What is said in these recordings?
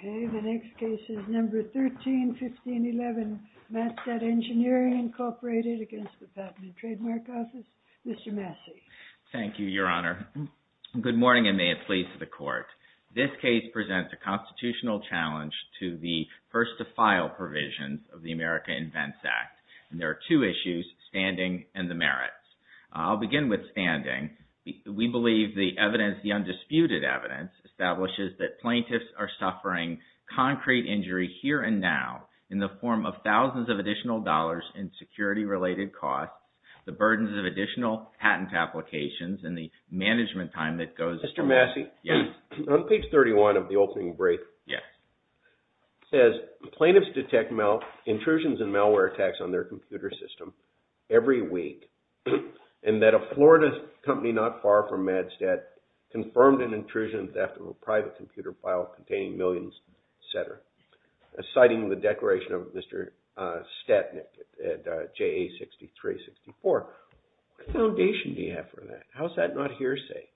Okay, the next case is number 13, 1511, MassDOT Engineering, Incorporated, against the Patent and Trademark Office. Mr. Massey. Thank you, Your Honor. Good morning, and may it please the Court. This case presents a constitutional challenge to the first-to-file provisions of the America Invents Act, and there are two issues, standing and the merits. I'll begin with standing. We believe the evidence, the undisputed evidence, establishes that plaintiffs are suffering concrete injury here and now in the form of thousands of additional dollars in security-related costs, the burdens of additional patent applications, and the management time that goes into that. Mr. Massey. Yes. On page 31 of the opening brief. Yes. It says, plaintiffs detect intrusions and malware attacks on their computer system every week, and that a Florida company not far from MADSTAT confirmed an intrusion and theft of a private computer file containing millions, et cetera, citing the declaration of Mr. Statnick at JA 6364. What foundation do you have for that? How is that not hearsay?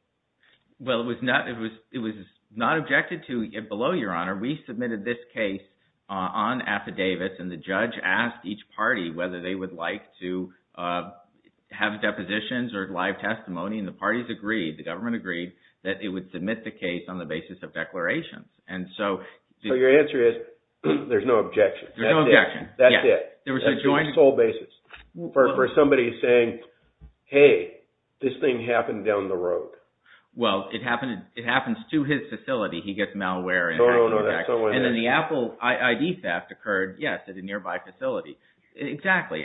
Well, it was not objected to below, Your Honor. We submitted this case on affidavits, and the judge asked each party whether they would like to have depositions or live testimony, and the parties agreed, the government agreed, that it would submit the case on the basis of declarations. Your answer is, there's no objection. There's no objection. That's it. That's the sole basis for somebody saying, hey, this thing happened down the road. Well, it happens to his facility. He gets malware. And then the Apple ID theft occurred, yes, at a nearby facility. Exactly.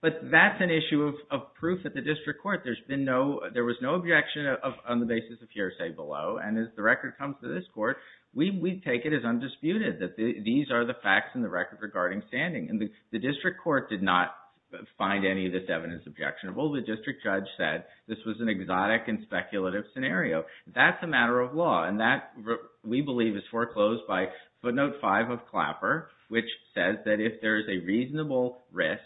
But that's an issue of proof at the district court. There was no objection on the basis of hearsay below, and as the record comes to this court, we take it as undisputed that these are the facts in the record regarding standing. And the district court did not find any of this evidence objectionable. The district judge said this was an exotic and speculative scenario. That's a matter of law. And that, we believe, is foreclosed by footnote five of Clapper, which says that if there's a reasonable risk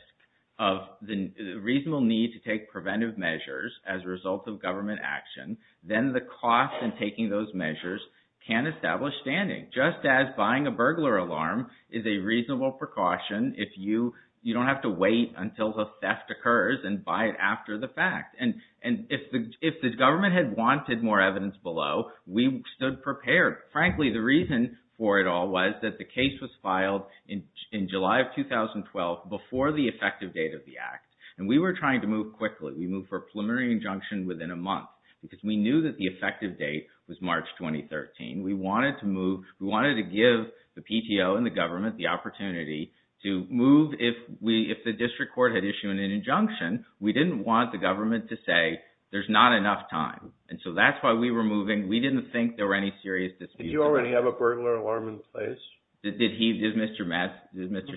of the reasonable need to take preventive measures as a result of government action, then the cost in taking those measures can establish standing, just as buying a burglar alarm is a reasonable precaution if you don't have to wait until the theft occurs and buy it after the fact. And if the government had wanted more evidence below, we stood prepared. Frankly, the reason for it all was that the case was filed in July of 2012 before the effective date of the act. And we were trying to move quickly. We moved for preliminary injunction within a month because we knew that the effective date was March 2013. We wanted to give the PTO and the government the opportunity to move if the district court had issued an injunction. We didn't want the government to say there's not enough time. And so that's why we were moving. We didn't think there were any serious disputes. Did you already have a burglar alarm in place? Did he, did Mr.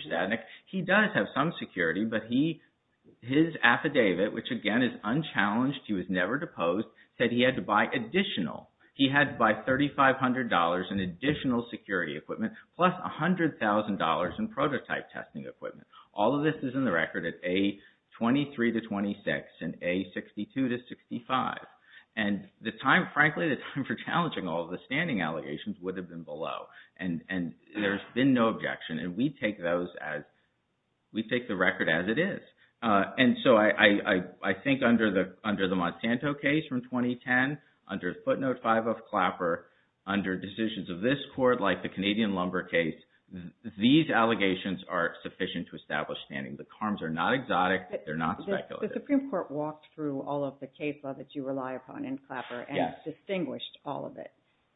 Stadnik? He does have some security, but his affidavit, which again is unchallenged, he was never deposed, said he had to buy additional. He had to buy $3,500 in additional security equipment plus $100,000 in prototype testing equipment. All of this is in the record at A23-26 and A62-65. And the time, frankly, the time for challenging all of the standing allegations would have been below. And there's been no objection. And we take those as, we take the record as it is. And so I think under the Monsanto case from 2010, under footnote 5 of Clapper, under decisions of this court, like the Canadian Lumber case, these allegations are sufficient to establish standing. The harms are not exotic. They're not speculative. The Supreme Court walked through all of the case law that you rely upon in Clapper and distinguished all of it.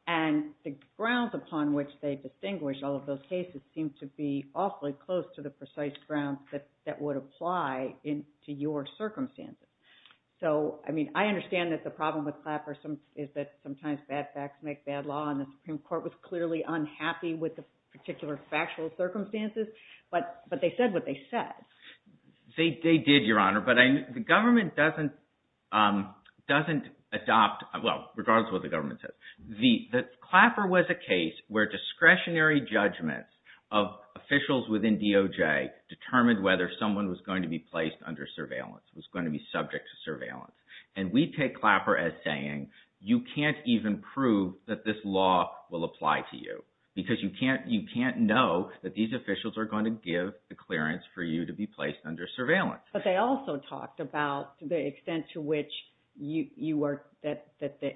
And the grounds upon which they distinguish all of those cases seem to be awfully close to the precise grounds that would apply to your circumstances. So, I mean, I understand that the problem with Clapper is that sometimes bad facts make bad law. And the Supreme Court was clearly unhappy with the particular factual circumstances. But they said what they said. They did, Your Honor. But the government doesn't adopt, well, regardless of what the government says. The Clapper was a case where discretionary judgments of officials within DOJ determined whether someone was going to be placed under surveillance, was going to be subject to surveillance. And we take Clapper as saying you can't even prove that this law will apply to you because you can't know that these officials are going to give the clearance for you to be placed under surveillance. But they also talked about the extent to which the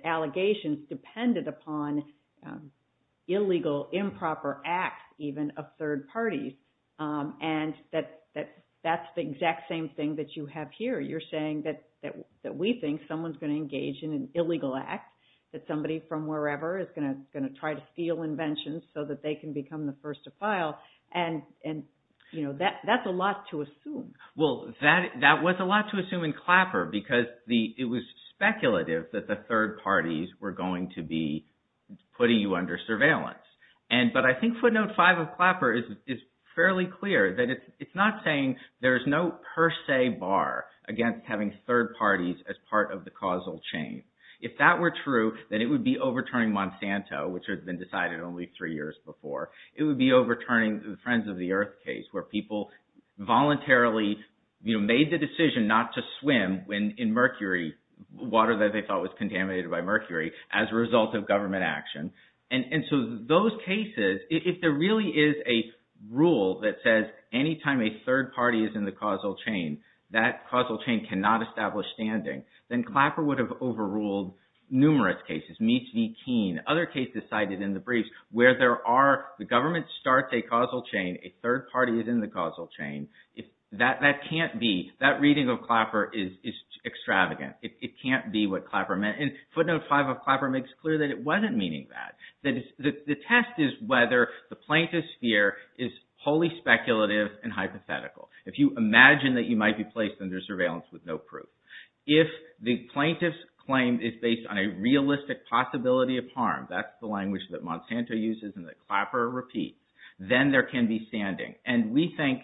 allegations depended upon illegal improper acts even of third parties. And that's the exact same thing that you have here. You're saying that we think someone's going to engage in an illegal act, that somebody from wherever is going to try to steal inventions so that they can become the first to file. And, you know, that's a lot to assume. Well, that was a lot to assume in Clapper because it was speculative that the third parties were going to be putting you under surveillance. But I think footnote five of Clapper is fairly clear that it's not saying there's no per se bar against having third parties as part of the causal chain. If that were true, then it would be overturning Monsanto, which had been decided only three years before. It would be overturning the Friends of the Earth case where people voluntarily made the decision not to swim in mercury, water that they thought was contaminated by mercury, as a result of government action. And so those cases, if there really is a rule that says any time a third party is in the causal chain, that causal chain cannot establish standing, then Clapper would have overruled numerous cases. Other cases cited in the briefs where the government starts a causal chain, a third party is in the causal chain, that reading of Clapper is extravagant. It can't be what Clapper meant. And footnote five of Clapper makes clear that it wasn't meaning that. The test is whether the plaintiff's fear is wholly speculative and hypothetical. If you imagine that you might be placed under surveillance with no proof. If the plaintiff's claim is based on a realistic possibility of harm, that's the language that Monsanto uses and that Clapper repeats, then there can be standing. And we think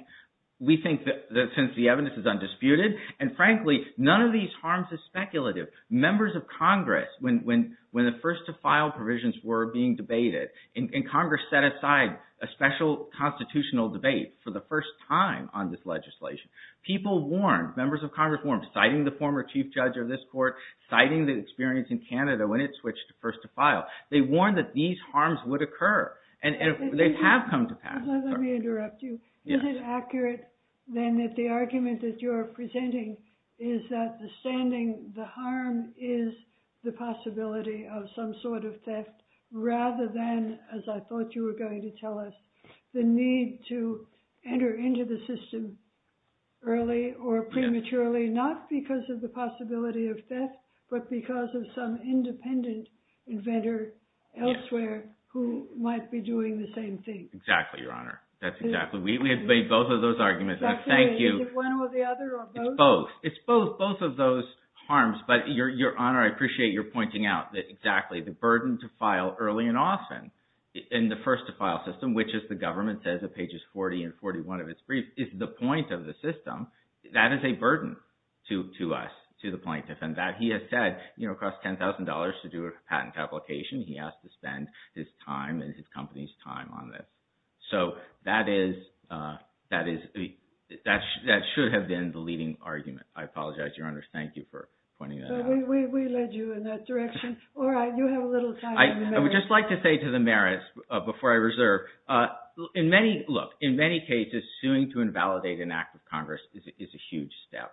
that since the evidence is undisputed, and frankly, none of these harms is speculative. Members of Congress, when the first to file provisions were being debated, and Congress set aside a special constitutional debate for the first time on this legislation, people warned, members of Congress warned, citing the former chief judge of this court, citing the experience in Canada when it switched first to file, they warned that these harms would occur. And they have come to pass. Let me interrupt you. Is it accurate, then, that the argument that you're presenting is that the standing, the harm is the possibility of some sort of theft, rather than, as I thought you were going to tell us, the need to enter into the system early or prematurely, not because of the possibility of theft, but because of some independent inventor elsewhere who might be doing the same thing? Exactly, Your Honor. That's exactly. We have made both of those arguments, and thank you. Is it one or the other, or both? It's both. It's both. Both of those harms. But, Your Honor, I appreciate your pointing out that, exactly, the burden to file early and often in the first to file system, which, as the government says at pages 40 and 41 of its brief, is the point of the system, that is a burden to us, to the plaintiff. And that, he has said, costs $10,000 to do a patent application. He has to spend his time and his company's time on this. So, that should have been the leading argument. I apologize, Your Honor. Thank you for pointing that out. We led you in that direction. All right. You have a little time. I would just like to say to the merits, before I reserve. Look, in many cases, suing to invalidate an act of Congress is a huge step.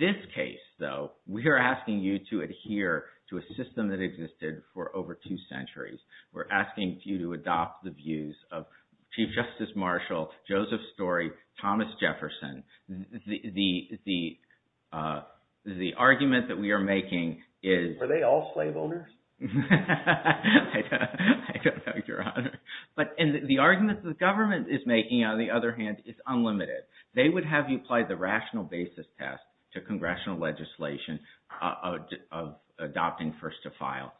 This case, though, we are asking you to adhere to a system that existed for over two centuries. We're asking you to adopt the views of Chief Justice Marshall, Joseph Story, Thomas Jefferson. The argument that we are making is… I don't know, Your Honor. But, the argument the government is making, on the other hand, is unlimited. They would have you apply the rational basis test to congressional legislation of adopting first to file.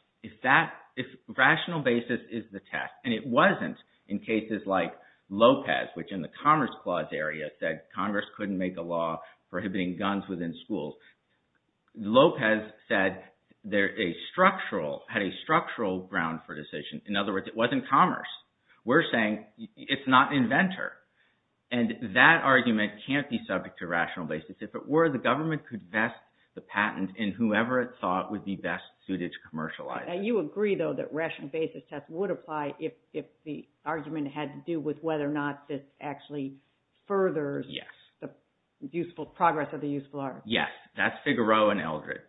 Rational basis is the test. And it wasn't in cases like Lopez, which in the Commerce Clause area said Congress couldn't make a law prohibiting guns within schools. Lopez said there's a structural, had a structural ground for decision. In other words, it wasn't Commerce. We're saying it's not an inventor. And that argument can't be subject to rational basis. If it were, the government could vest the patent in whoever it thought would be best suited to commercialize it. You agree, though, that rational basis test would apply if the argument had to do with whether or not this actually furthers the useful, progress of the useful art. Yes. That's Figaro and Eldred.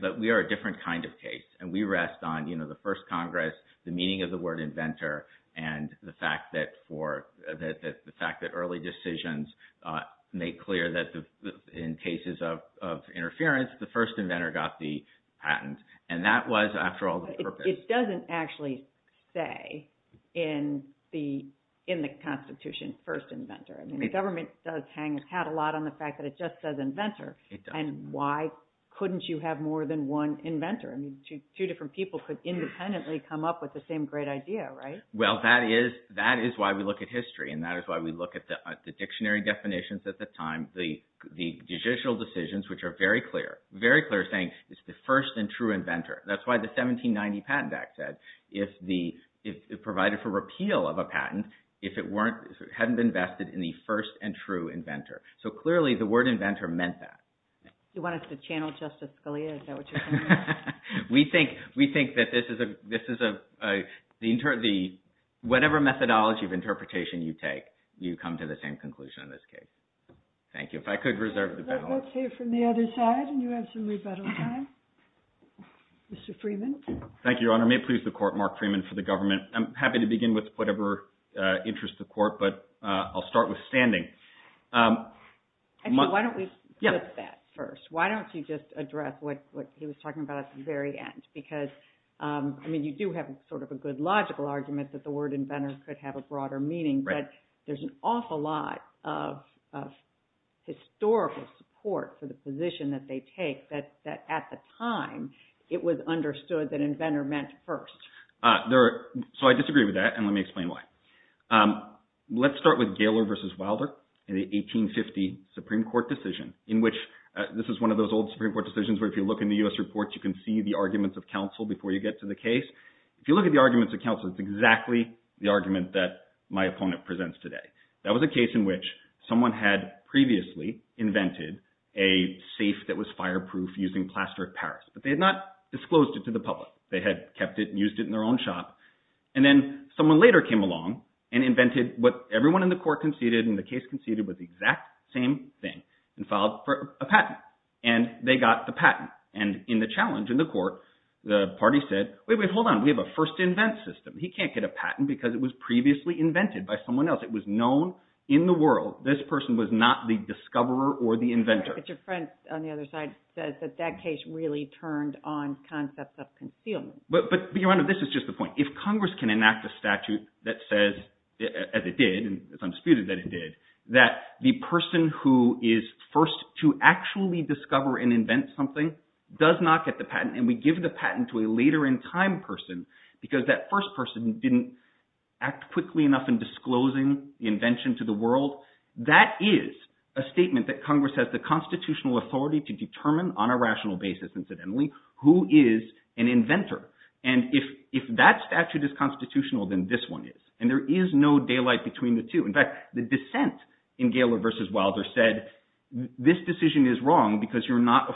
But we are a different kind of case. And we rest on the first Congress, the meaning of the word inventor, and the fact that early decisions made clear that in cases of interference, the first inventor got the patent. And that was, after all, the purpose. Which doesn't actually say in the Constitution, first inventor. I mean, the government does hang its hat a lot on the fact that it just says inventor. And why couldn't you have more than one inventor? I mean, two different people could independently come up with the same great idea, right? Well, that is why we look at history. And that is why we look at the dictionary definitions at the time, the judicial decisions, which are very clear, very clear, saying it's the first and true inventor. That's why the 1790 Patent Act said, if it provided for repeal of a patent, if it hadn't been vested in the first and true inventor. So, clearly, the word inventor meant that. You want us to channel Justice Scalia? Is that what you're saying? We think that this is a, whatever methodology of interpretation you take, you come to the same conclusion in this case. Thank you. If I could reserve the balance. Let's hear from the other side, and you have some rebuttal time. Mr. Freeman. Thank you, Your Honor. May it please the Court, Mark Freeman for the government. I'm happy to begin with whatever interests the Court, but I'll start with standing. Why don't we flip that first? Why don't you just address what he was talking about at the very end? Because, I mean, you do have sort of a good logical argument that the word inventor could have a broader meaning, but there's an awful lot of historical support for the position that they take that, at the time, it was understood that inventor meant first. So, I disagree with that, and let me explain why. Let's start with Gaylor v. Wilder in the 1850 Supreme Court decision, in which this is one of those old Supreme Court decisions where, if you look in the U.S. reports, you can see the arguments of counsel before you get to the case. If you look at the arguments of counsel, it's exactly the argument that my opponent presents today. That was a case in which someone had previously invented a safe that was fireproof using plaster of Paris, but they had not disclosed it to the public. They had kept it and used it in their own shop, and then someone later came along and invented what everyone in the Court conceded, and the case conceded was the exact same thing, and filed for a patent, and they got the patent. And in the challenge in the Court, the party said, wait, wait, hold on. We have a first-invent system. He can't get a patent because it was previously invented by someone else. It was known in the world this person was not the discoverer or the inventor. But your friend on the other side says that that case really turned on concepts of concealment. But your honor, this is just the point. If Congress can enact a statute that says, as it did, and it's undisputed that it did, that the person who is first to actually discover and invent something does not get the patent, and we give the patent to a later-in-time person because that first person didn't act quickly enough in disclosing the invention to the world, that is a statement that Congress has the constitutional authority to determine, on a rational basis incidentally, who is an inventor. And if that statute is constitutional, then this one is. And there is no daylight between the two. In fact, the dissent in Gaylor v. Wilder said, this decision is wrong because you're not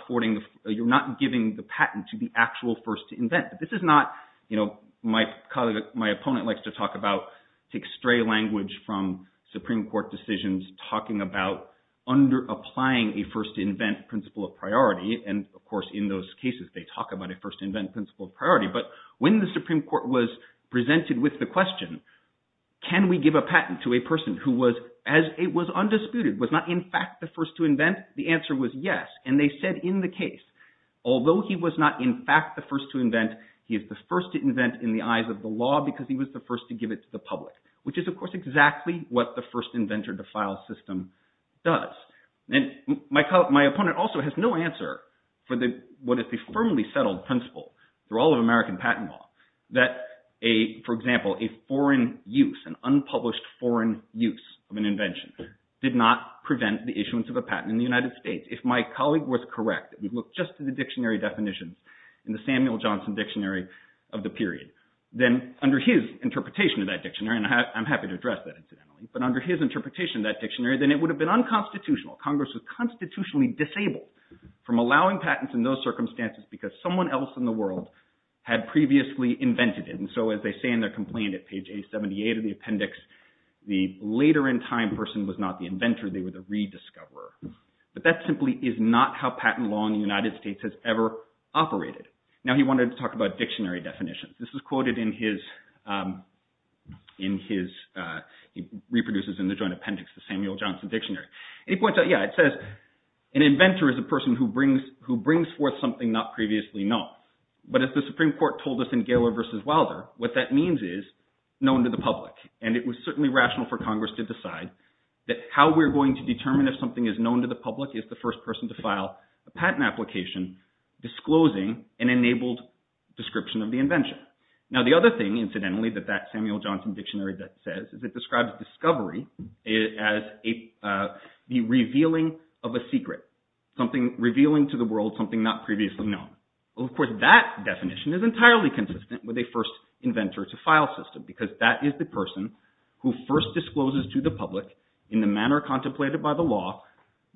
giving the patent to the actual first to invent. But this is not – my opponent likes to talk about – take stray language from Supreme Court decisions talking about applying a first-to-invent principle of priority, and of course in those cases they talk about a first-to-invent principle of priority. But when the Supreme Court was presented with the question, can we give a patent to a person who was, as it was undisputed, was not in fact the first to invent, the answer was yes. And they said in the case, although he was not in fact the first to invent, he is the first to invent in the eyes of the law because he was the first to give it to the public, which is of course exactly what the first-inventor-to-file system does. And my opponent also has no answer for what is the firmly settled principle through all of American patent law that, for example, a foreign use, an unpublished foreign use of an invention did not prevent the issuance of a patent in the United States. If my colleague was correct, if we look just to the dictionary definitions in the Samuel Johnson Dictionary of the period, then under his interpretation of that dictionary – and I'm happy to address that incidentally – but under his interpretation of that dictionary, then it would have been unconstitutional. Congress was constitutionally disabled from allowing patents in those circumstances because someone else in the world had previously invented it. And so as they say in their complaint at page 878 of the appendix, the later in time person was not the inventor, they were the rediscoverer. But that simply is not how patent law in the United States has ever operated. Now he wanted to talk about dictionary definitions. This is quoted in his – he reproduces in the joint appendix the Samuel Johnson Dictionary. And he points out, yeah, it says, an inventor is a person who brings forth something not previously known. But as the Supreme Court told us in Gaylor v. Wilder, what that means is known to the public. And it was certainly rational for Congress to decide that how we're going to determine if something is known to the public is the first person to file a patent application disclosing an enabled description of the invention. Now the other thing, incidentally, that that Samuel Johnson Dictionary says is it describes discovery as the revealing of a secret, revealing to the world something not previously known. Of course, that definition is entirely consistent with a first inventor to file system because that is the person who first discloses to the public in the manner contemplated by the law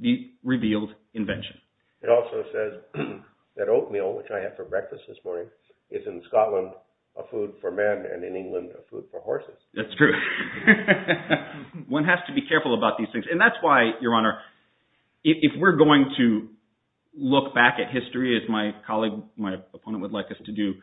the revealed invention. It also says that oatmeal, which I had for breakfast this morning, is in Scotland a food for men and in England a food for horses. That's true. One has to be careful about these things, and that's why, Your Honor, if we're going to look back at history as my colleague, my opponent would like us to do,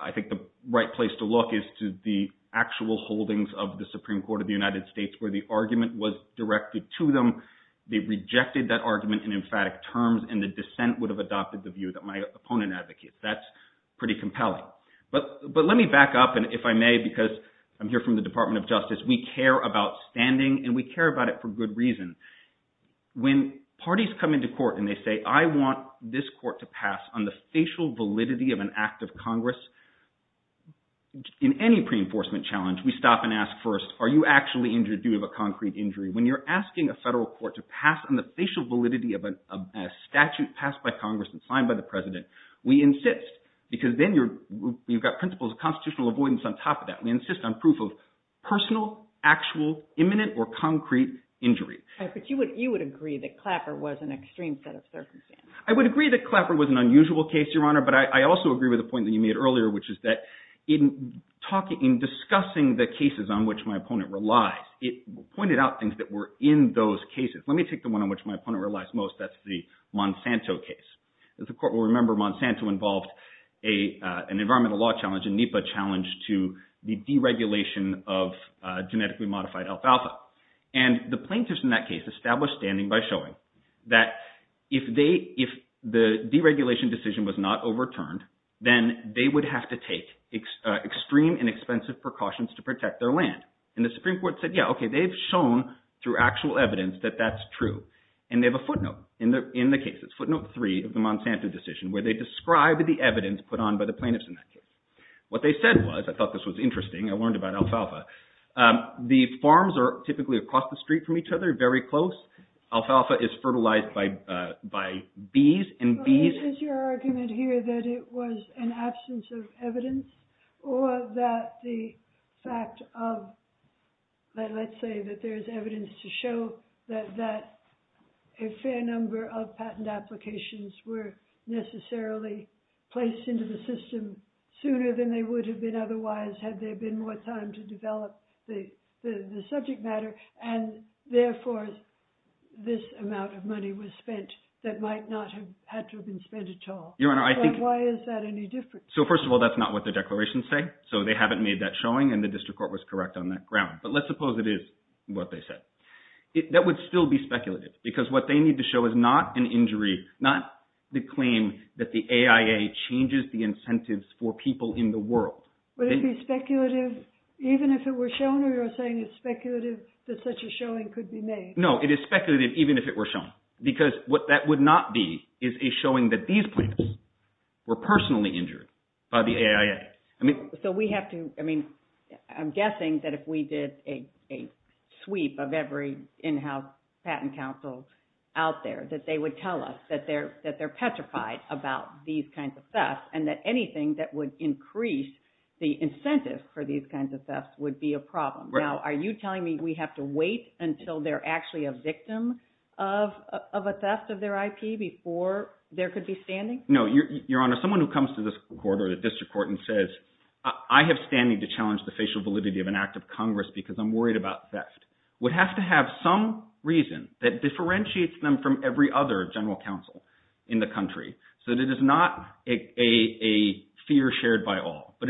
I think the right place to look is to the actual holdings of the Supreme Court of the United States where the argument was directed to them. They rejected that argument in emphatic terms, and the dissent would have adopted the view that my opponent advocates. That's pretty compelling. But let me back up, and if I may, because I'm here from the Department of Justice, we care about standing, and we care about it for good reason. When parties come into court and they say, I want this court to pass on the facial validity of an act of Congress, in any pre-enforcement challenge, we stop and ask first, are you actually injured due to a concrete injury? When you're asking a federal court to pass on the facial validity of a statute passed by Congress and signed by the president, we insist, because then you've got principles of constitutional avoidance on top of that. We insist on proof of personal, actual, imminent, or concrete injury. But you would agree that Clapper was an extreme set of circumstances. I would agree that Clapper was an unusual case, Your Honor, but I also agree with the point that you made earlier, which is that in discussing the cases on which my opponent relies, it pointed out things that were in those cases. Let me take the one on which my opponent relies most. That's the Monsanto case. The court will remember Monsanto involved an environmental law challenge, a NEPA challenge to the deregulation of genetically modified alfalfa. And the plaintiffs in that case established standing by showing that if the deregulation decision was not overturned, then they would have to take extreme and expensive precautions to protect their land. And the Supreme Court said, yeah, okay, they've shown through actual evidence that that's true. And they have a footnote in the case. It's footnote three of the Monsanto decision where they describe the evidence put on by the plaintiffs in that case. What they said was, I thought this was interesting, I learned about alfalfa. The farms are typically across the street from each other, very close. Alfalfa is fertilized by bees and bees… Or that the fact of, let's say that there's evidence to show that a fair number of patent applications were necessarily placed into the system sooner than they would have been otherwise had there been more time to develop the subject matter. And therefore, this amount of money was spent that might not have had to have been spent at all. Your Honor, I think… Why is that any different? So, first of all, that's not what the declarations say, so they haven't made that showing and the district court was correct on that ground. But let's suppose it is what they said. That would still be speculative because what they need to show is not an injury, not the claim that the AIA changes the incentives for people in the world. Would it be speculative even if it were shown or you're saying it's speculative that such a showing could be made? No, it is speculative even if it were shown because what that would not be is a showing that these plants were personally injured by the AIA. So, we have to… I mean, I'm guessing that if we did a sweep of every in-house patent counsel out there that they would tell us that they're petrified about these kinds of thefts and that anything that would increase the incentive for these kinds of thefts would be a problem. Now, are you telling me we have to wait until they're actually a victim of a theft of their IP before there could be standing? No, Your Honor. Someone who comes to this court or the district court and says I have standing to challenge the facial validity of an act of Congress because I'm worried about theft would have to have some reason that differentiates them from every other general counsel in the country. So, it is not a fear shared by all, but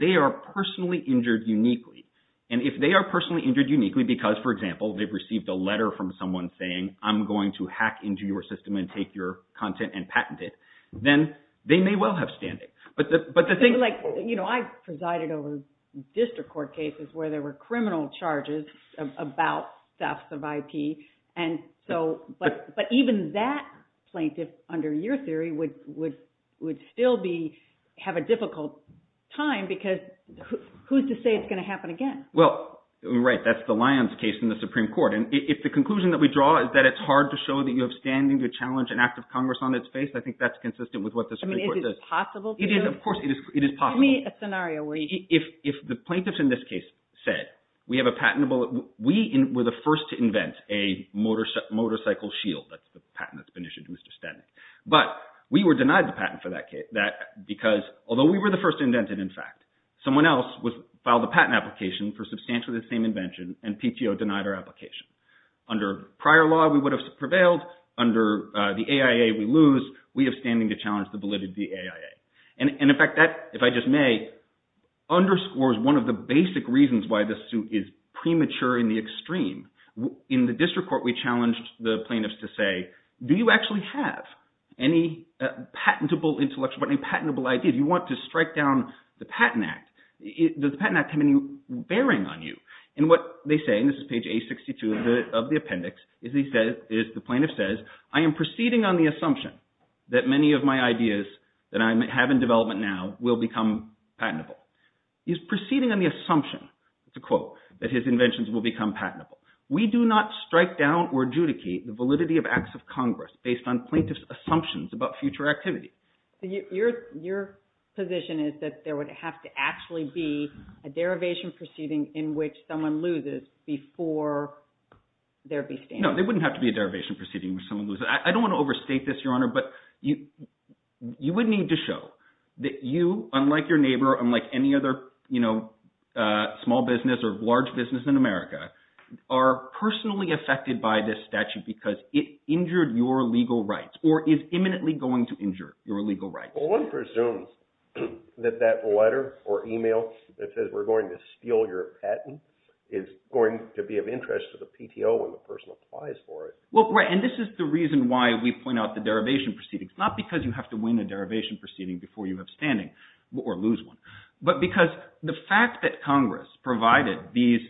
they are personally injured uniquely. And if they are personally injured uniquely because, for example, they've received a letter from someone saying I'm going to hack into your system and take your content and patent it, then they may well have standing. I presided over district court cases where there were criminal charges about thefts of IP. But even that plaintiff under your theory would still have a difficult time because who's to say it's going to happen again? Well, right. That's the Lyons case in the Supreme Court. And if the conclusion that we draw is that it's hard to show that you have standing to challenge an act of Congress on its face, I think that's consistent with what the Supreme Court says. Is it possible to? It is. Of course it is possible. Give me a scenario. If the plaintiffs in this case said we have a patentable – we were the first to invent a motorcycle shield. That's the patent that's been issued to Mr. Stetnik. But we were denied the patent for that because although we were the first to invent it, in fact, someone else filed a patent application for substantially the same invention and PTO denied our application. Under prior law, we would have prevailed. Under the AIA, we lose. We have standing to challenge the validity of the AIA. And, in fact, that, if I just may, underscores one of the basic reasons why this suit is premature in the extreme. In the district court, we challenged the plaintiffs to say, do you actually have any patentable intellectual – any patentable idea? Do you want to strike down the Patent Act? Does the Patent Act have any bearing on you? And what they say, and this is page A62 of the appendix, is the plaintiff says, I am proceeding on the assumption that many of my ideas that I have in development now will become patentable. He's proceeding on the assumption – it's a quote – that his inventions will become patentable. We do not strike down or adjudicate the validity of acts of Congress based on plaintiffs' assumptions about future activity. Your position is that there would have to actually be a derivation proceeding in which someone loses before there would be standing. No, there wouldn't have to be a derivation proceeding in which someone loses. I don't want to overstate this, Your Honor, but you would need to show that you, unlike your neighbor, unlike any other small business or large business in America, are personally affected by this statute because it injured your legal rights or is imminently going to injure your legal rights. Well, one presumes that that letter or email that says we're going to steal your patent is going to be of interest to the PTO when the person applies for it. And this is the reason why we point out the derivation proceedings, not because you have to win a derivation proceeding before you have standing or lose one, but because the fact that Congress provided this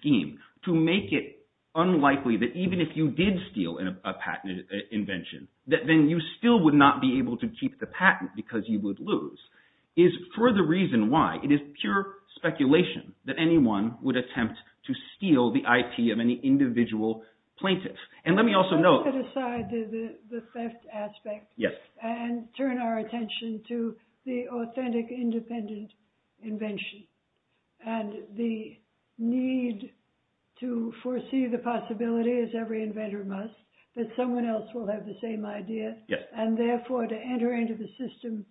scheme to make it unlikely that even if you did steal a patent invention that then you still would not be able to keep the patent because you would lose is for the reason why it is pure speculation that anyone would attempt to steal the IP of any individual plaintiff. And let me also note… Let's put aside the theft aspect and turn our attention to the authentic independent invention and the need to foresee the possibility, as every inventor must, that someone else will have the same idea and therefore to enter into the system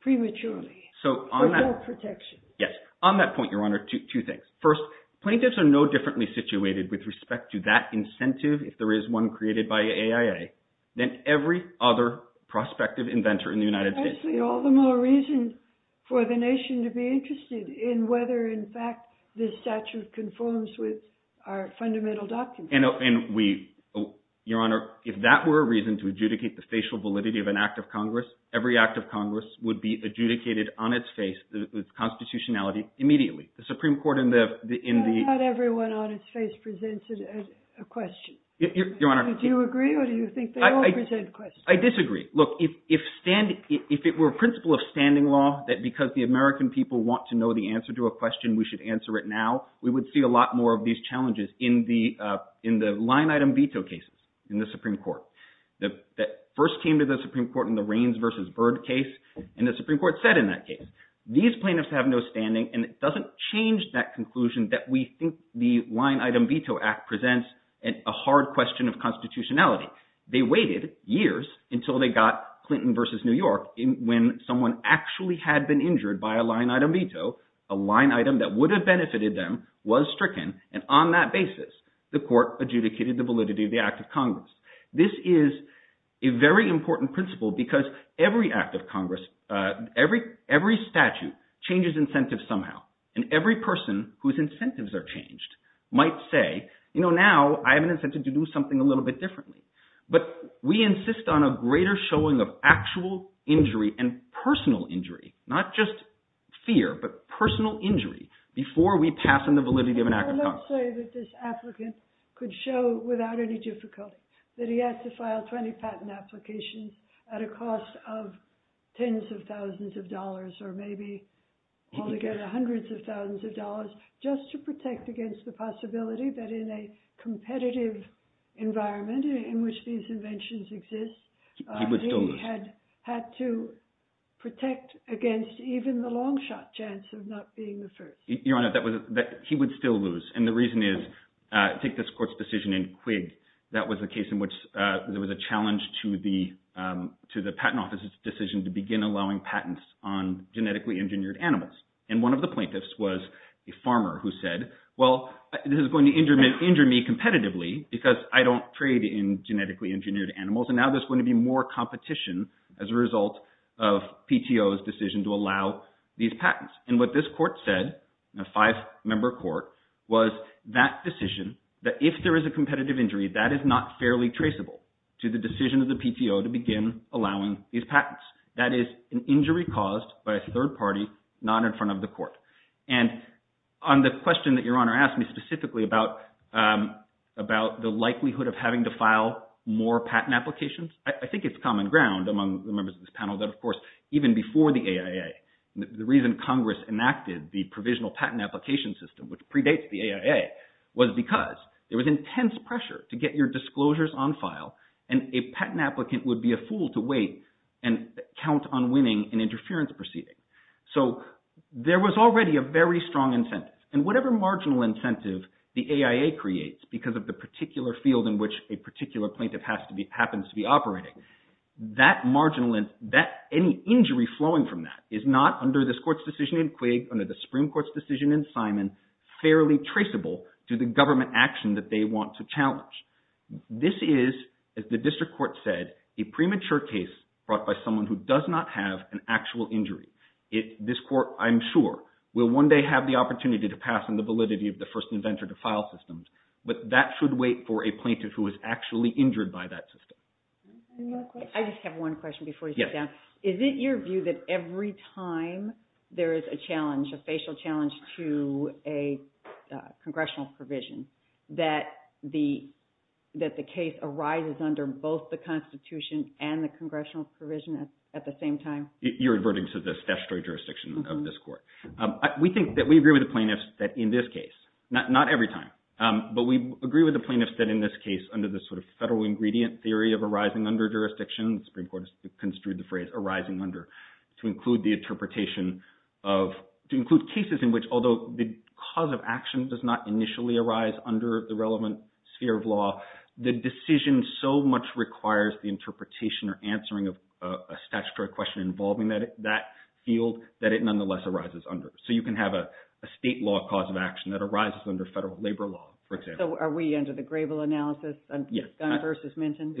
prematurely for their protection. Yes. On that point, Your Honor, two things. First, plaintiffs are no differently situated with respect to that incentive if there is one created by AIA than every other prospective inventor in the United States. Actually, all the more reason for the nation to be interested in whether in fact this statute conforms with our fundamental documents. Your Honor, if that were a reason to adjudicate the facial validity of an act of Congress, every act of Congress would be adjudicated on its face, its constitutionality, immediately. The Supreme Court in the… Not everyone on its face presents a question. Your Honor… Do you agree or do you think they all present questions? I disagree. Look, if it were a principle of standing law that because the American people want to know the answer to a question, we should answer it now, we would see a lot more of these challenges in the line-item veto cases in the Supreme Court. That first came to the Supreme Court in the Raines v. Byrd case, and the Supreme Court said in that case, these plaintiffs have no standing, and it doesn't change that conclusion that we think the line-item veto act presents a hard question of constitutionality. They waited years until they got Clinton v. New York when someone actually had been injured by a line-item veto. A line-item that would have benefited them was stricken, and on that basis, the court adjudicated the validity of the act of Congress. This is a very important principle because every act of Congress, every statute changes incentives somehow, and every person whose incentives are changed might say, you know, now I have an incentive to do something a little bit differently. But we insist on a greater showing of actual injury and personal injury, not just fear, but personal injury before we pass on the validity of an act of Congress. I would say that this applicant could show without any difficulty that he had to file 20 patent applications at a cost of tens of thousands of dollars, or maybe altogether hundreds of thousands of dollars, just to protect against the possibility that in a competitive environment in which these inventions exist, he had to protect against even the long-shot chance of not being the first. Your Honor, he would still lose, and the reason is, take this court's decision in Quigg. That was a case in which there was a challenge to the patent office's decision to begin allowing patents on genetically engineered animals. And one of the plaintiffs was a farmer who said, well, this is going to injure me competitively because I don't trade in genetically engineered animals, and now there's going to be more competition as a result of PTO's decision to allow these patents. And what this court said, a five-member court, was that decision, that if there is a competitive injury, that is not fairly traceable to the decision of the PTO to begin allowing these patents. That is an injury caused by a third party not in front of the court. And on the question that Your Honor asked me specifically about the likelihood of having to file more patent applications, I think it's common ground among the members of this panel that, of course, even before the AIA, the reason Congress enacted the provisional patent application system, which predates the AIA, was because there was intense pressure to get your disclosures on file, and a patent applicant would be a fool to wait and count on winning an interference proceeding. So there was already a very strong incentive. And whatever marginal incentive the AIA creates because of the particular field in which a particular plaintiff happens to be operating, any injury flowing from that is not, under this court's decision in Quigg, under the Supreme Court's decision in Simon, fairly traceable to the government action that they want to challenge. This is, as the district court said, a premature case brought by someone who does not have an actual injury. This court, I'm sure, will one day have the opportunity to pass on the validity of the first inventor to file systems, but that should wait for a plaintiff who is actually injured by that system. I just have one question before you sit down. Yes. Is it your view that every time there is a challenge, a facial challenge to a congressional provision, that the case arises under both the Constitution and the congressional provision at the same time? You're reverting to the statutory jurisdiction of this court. We think that we agree with the plaintiffs that in this case, not every time, but we agree with the plaintiffs that in this case under the sort of federal ingredient theory of arising under jurisdiction, the Supreme Court has construed the phrase arising under, to include the interpretation of, to include cases in which although the cause of action does not initially arise under the relevant sphere of law, the decision so much requires the interpretation or answering of a statutory question involving that field that it nonetheless arises under. So you can have a state law cause of action that arises under federal labor law, for example. So are we under the Grable analysis, Gunn v. Minton?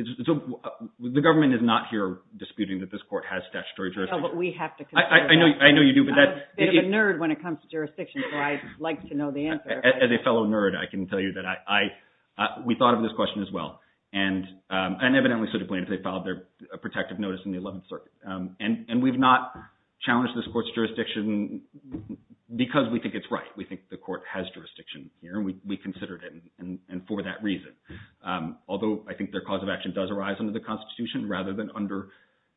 The government is not here disputing that this court has statutory jurisdiction. But we have to consider that. I know you do. I'm a bit of a nerd when it comes to jurisdiction, so I'd like to know the answer. As a fellow nerd, I can tell you that we thought of this question as well. And evidently, so did the plaintiffs. They filed their protective notice in the 11th Circuit. And we've not challenged this court's jurisdiction because we think it's right. We think the court has jurisdiction here, and we considered it for that reason. Although I think their cause of action does arise under the Constitution rather than under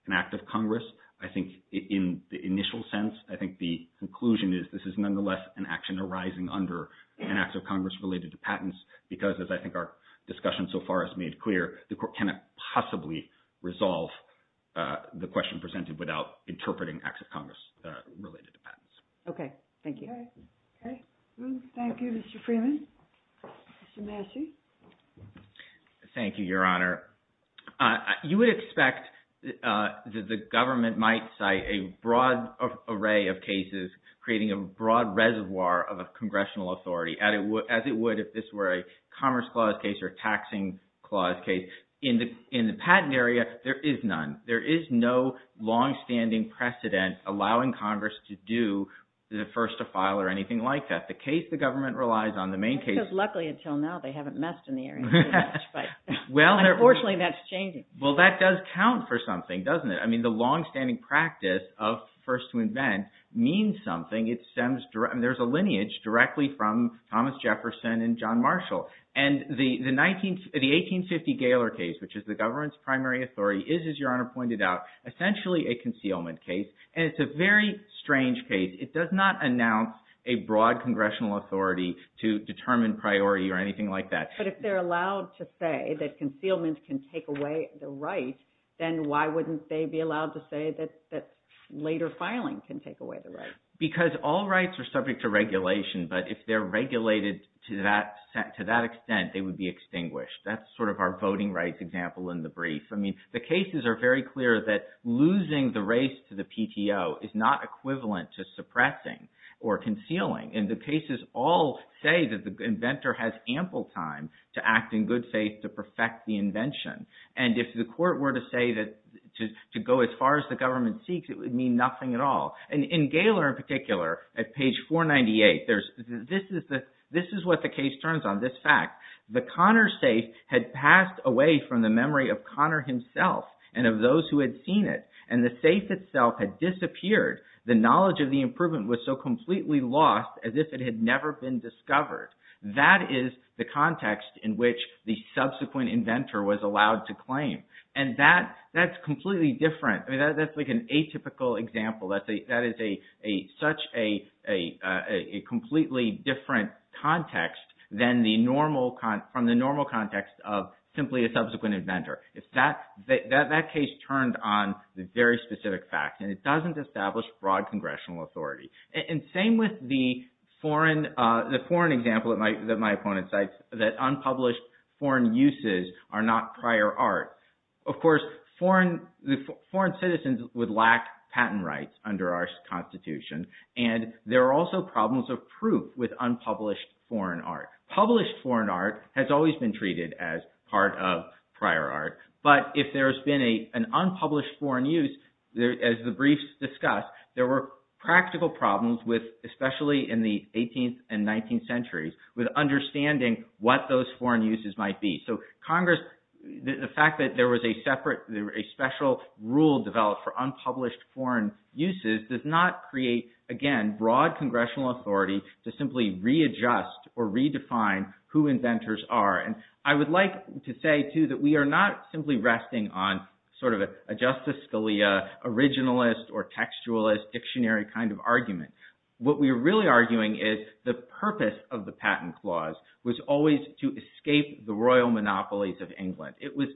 an act of Congress, I think in the initial sense, I think the conclusion is this is nonetheless an action arising under an act of Congress related to patents because, as I think our discussion so far has made clear, the court cannot possibly resolve the question presented without interpreting acts of Congress related to patents. Okay. Thank you. Okay. Thank you, Mr. Freeman. Mr. Massey? Thank you, Your Honor. You would expect that the government might cite a broad array of cases creating a broad reservoir of a congressional authority, as it would if this were a Commerce Clause case or Taxing Clause case. In the patent area, there is none. There is no longstanding precedent allowing Congress to do the first to file or anything like that. The case the government relies on, the main case— Congress, luckily, until now, they haven't messed in the area too much. Unfortunately, that's changing. Well, that does count for something, doesn't it? I mean, the longstanding practice of first to invent means something. There's a lineage directly from Thomas Jefferson and John Marshall. And the 1850 Gaylor case, which is the government's primary authority, is, as Your Honor pointed out, essentially a concealment case. And it's a very strange case. It does not announce a broad congressional authority to determine priority or anything like that. But if they're allowed to say that concealment can take away the right, then why wouldn't they be allowed to say that later filing can take away the right? Because all rights are subject to regulation. But if they're regulated to that extent, they would be extinguished. That's sort of our voting rights example in the brief. I mean, the cases are very clear that losing the race to the PTO is not equivalent to suppressing or concealing. And the cases all say that the inventor has ample time to act in good faith to perfect the invention. And if the court were to say that to go as far as the government seeks, it would mean nothing at all. And in Gaylor in particular, at page 498, this is what the case turns on, this fact. The Connor safe had passed away from the memory of Connor himself and of those who had seen it. And the safe itself had disappeared. The knowledge of the improvement was so completely lost as if it had never been discovered. That is the context in which the subsequent inventor was allowed to claim. And that's completely different. That's like an atypical example. That is such a completely different context from the normal context of simply a subsequent inventor. That case turned on the very specific fact. And it doesn't establish broad congressional authority. And same with the foreign example that my opponent cites, that unpublished foreign uses are not prior art. Of course, foreign citizens would lack patent rights under our Constitution. And there are also problems of proof with unpublished foreign art. Published foreign art has always been treated as part of prior art. But if there has been an unpublished foreign use, as the briefs discussed, there were practical problems with, especially in the 18th and 19th centuries, with understanding what those foreign uses might be. So Congress, the fact that there was a separate, a special rule developed for unpublished foreign uses does not create, again, broad congressional authority to simply readjust or redefine who inventors are. And I would like to say, too, that we are not simply resting on sort of a Justice Scalia, originalist or textualist dictionary kind of argument. What we're really arguing is the purpose of the patent clause was always to escape the royal monopolies of England. It was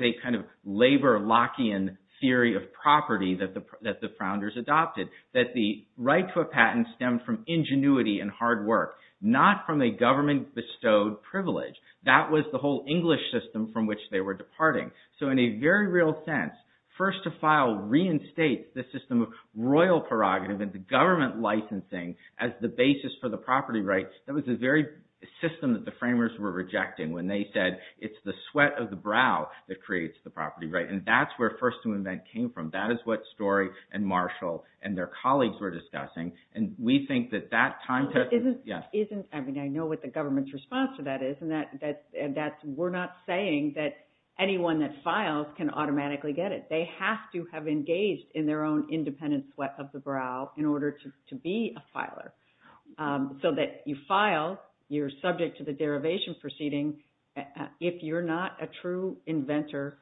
a kind of labor Lockean theory of property that the founders adopted, that the right to a patent stemmed from ingenuity and hard work, not from a government-bestowed privilege. That was the whole English system from which they were departing. So in a very real sense, first to file reinstates the system of royal prerogative and the government licensing as the basis for the property rights. That was the very system that the framers were rejecting when they said, it's the sweat of the brow that creates the property right. And that's where first to invent came from. That is what Story and Marshall and their colleagues were discussing. And we think that that time test— I mean, I know what the government's response to that is, and that we're not saying that anyone that files can automatically get it. They have to have engaged in their own independent sweat of the brow in order to be a filer. So that you file, you're subject to the derivation proceeding. If you're not a true inventor,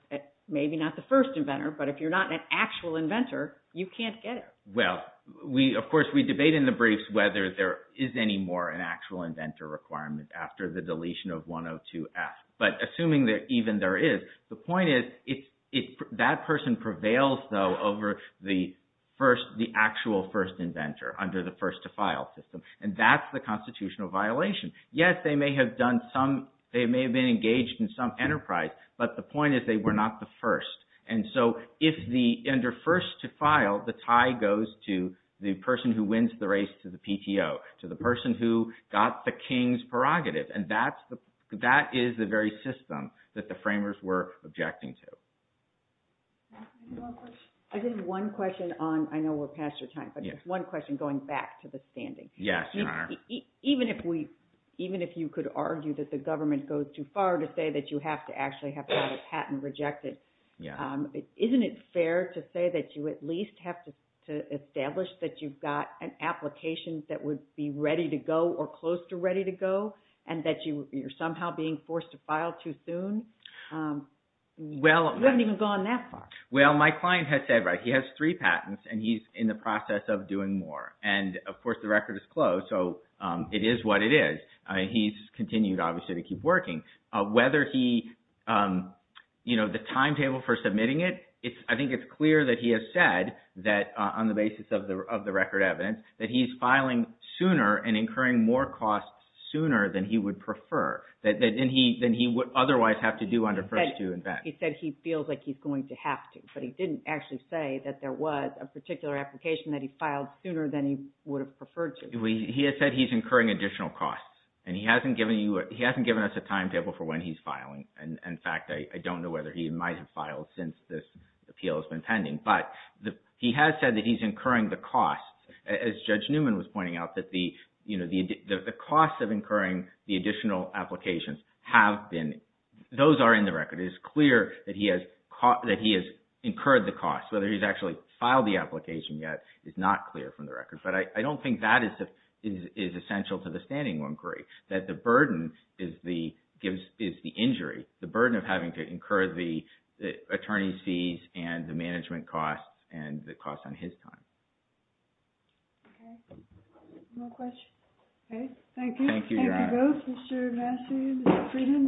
maybe not the first inventor, but if you're not an actual inventor, you can't get it. Well, of course, we debate in the briefs whether there is any more an actual inventor requirement after the deletion of 102F. But assuming that even there is, the point is that person prevails, though, over the actual first inventor under the first to file system. And that's the constitutional violation. Yes, they may have been engaged in some enterprise, but the point is they were not the first. And so if the under first to file, the tie goes to the person who wins the race to the PTO, to the person who got the king's prerogative. And that is the very system that the framers were objecting to. I think one question on—I know we're past our time, but just one question going back to the standing. Yes, Your Honor. Even if you could argue that the government goes too far to say that you have to actually have a patent rejected, isn't it fair to say that you at least have to establish that you've got an application that would be ready to go or close to ready to go and that you're somehow being forced to file too soon? You haven't even gone that far. Well, my client has said, right, he has three patents, and he's in the process of doing more. And, of course, the record is closed, so it is what it is. He's continued, obviously, to keep working. Whether he—you know, the timetable for submitting it, I think it's clear that he has said that, on the basis of the record evidence, that he's filing sooner and incurring more costs sooner than he would prefer, than he would otherwise have to do under first to invest. He said he feels like he's going to have to, but he didn't actually say that there was a particular application that he filed sooner than he would have preferred to. He has said he's incurring additional costs, and he hasn't given you—he hasn't given us a timetable for when he's filing. And, in fact, I don't know whether he might have filed since this appeal has been pending. But he has said that he's incurring the costs, as Judge Newman was pointing out, that the costs of incurring the additional applications have been—those are in the record. It is clear that he has incurred the costs. Whether he's actually filed the application yet is not clear from the record. But I don't think that is essential to the standing inquiry, that the burden is the injury, the burden of having to incur the attorney's fees and the management costs and the costs on his time. Okay. Any more questions? Okay. Thank you. Thank you, Your Honor. Thank you both, Mr. Massey and Mr. Frieden.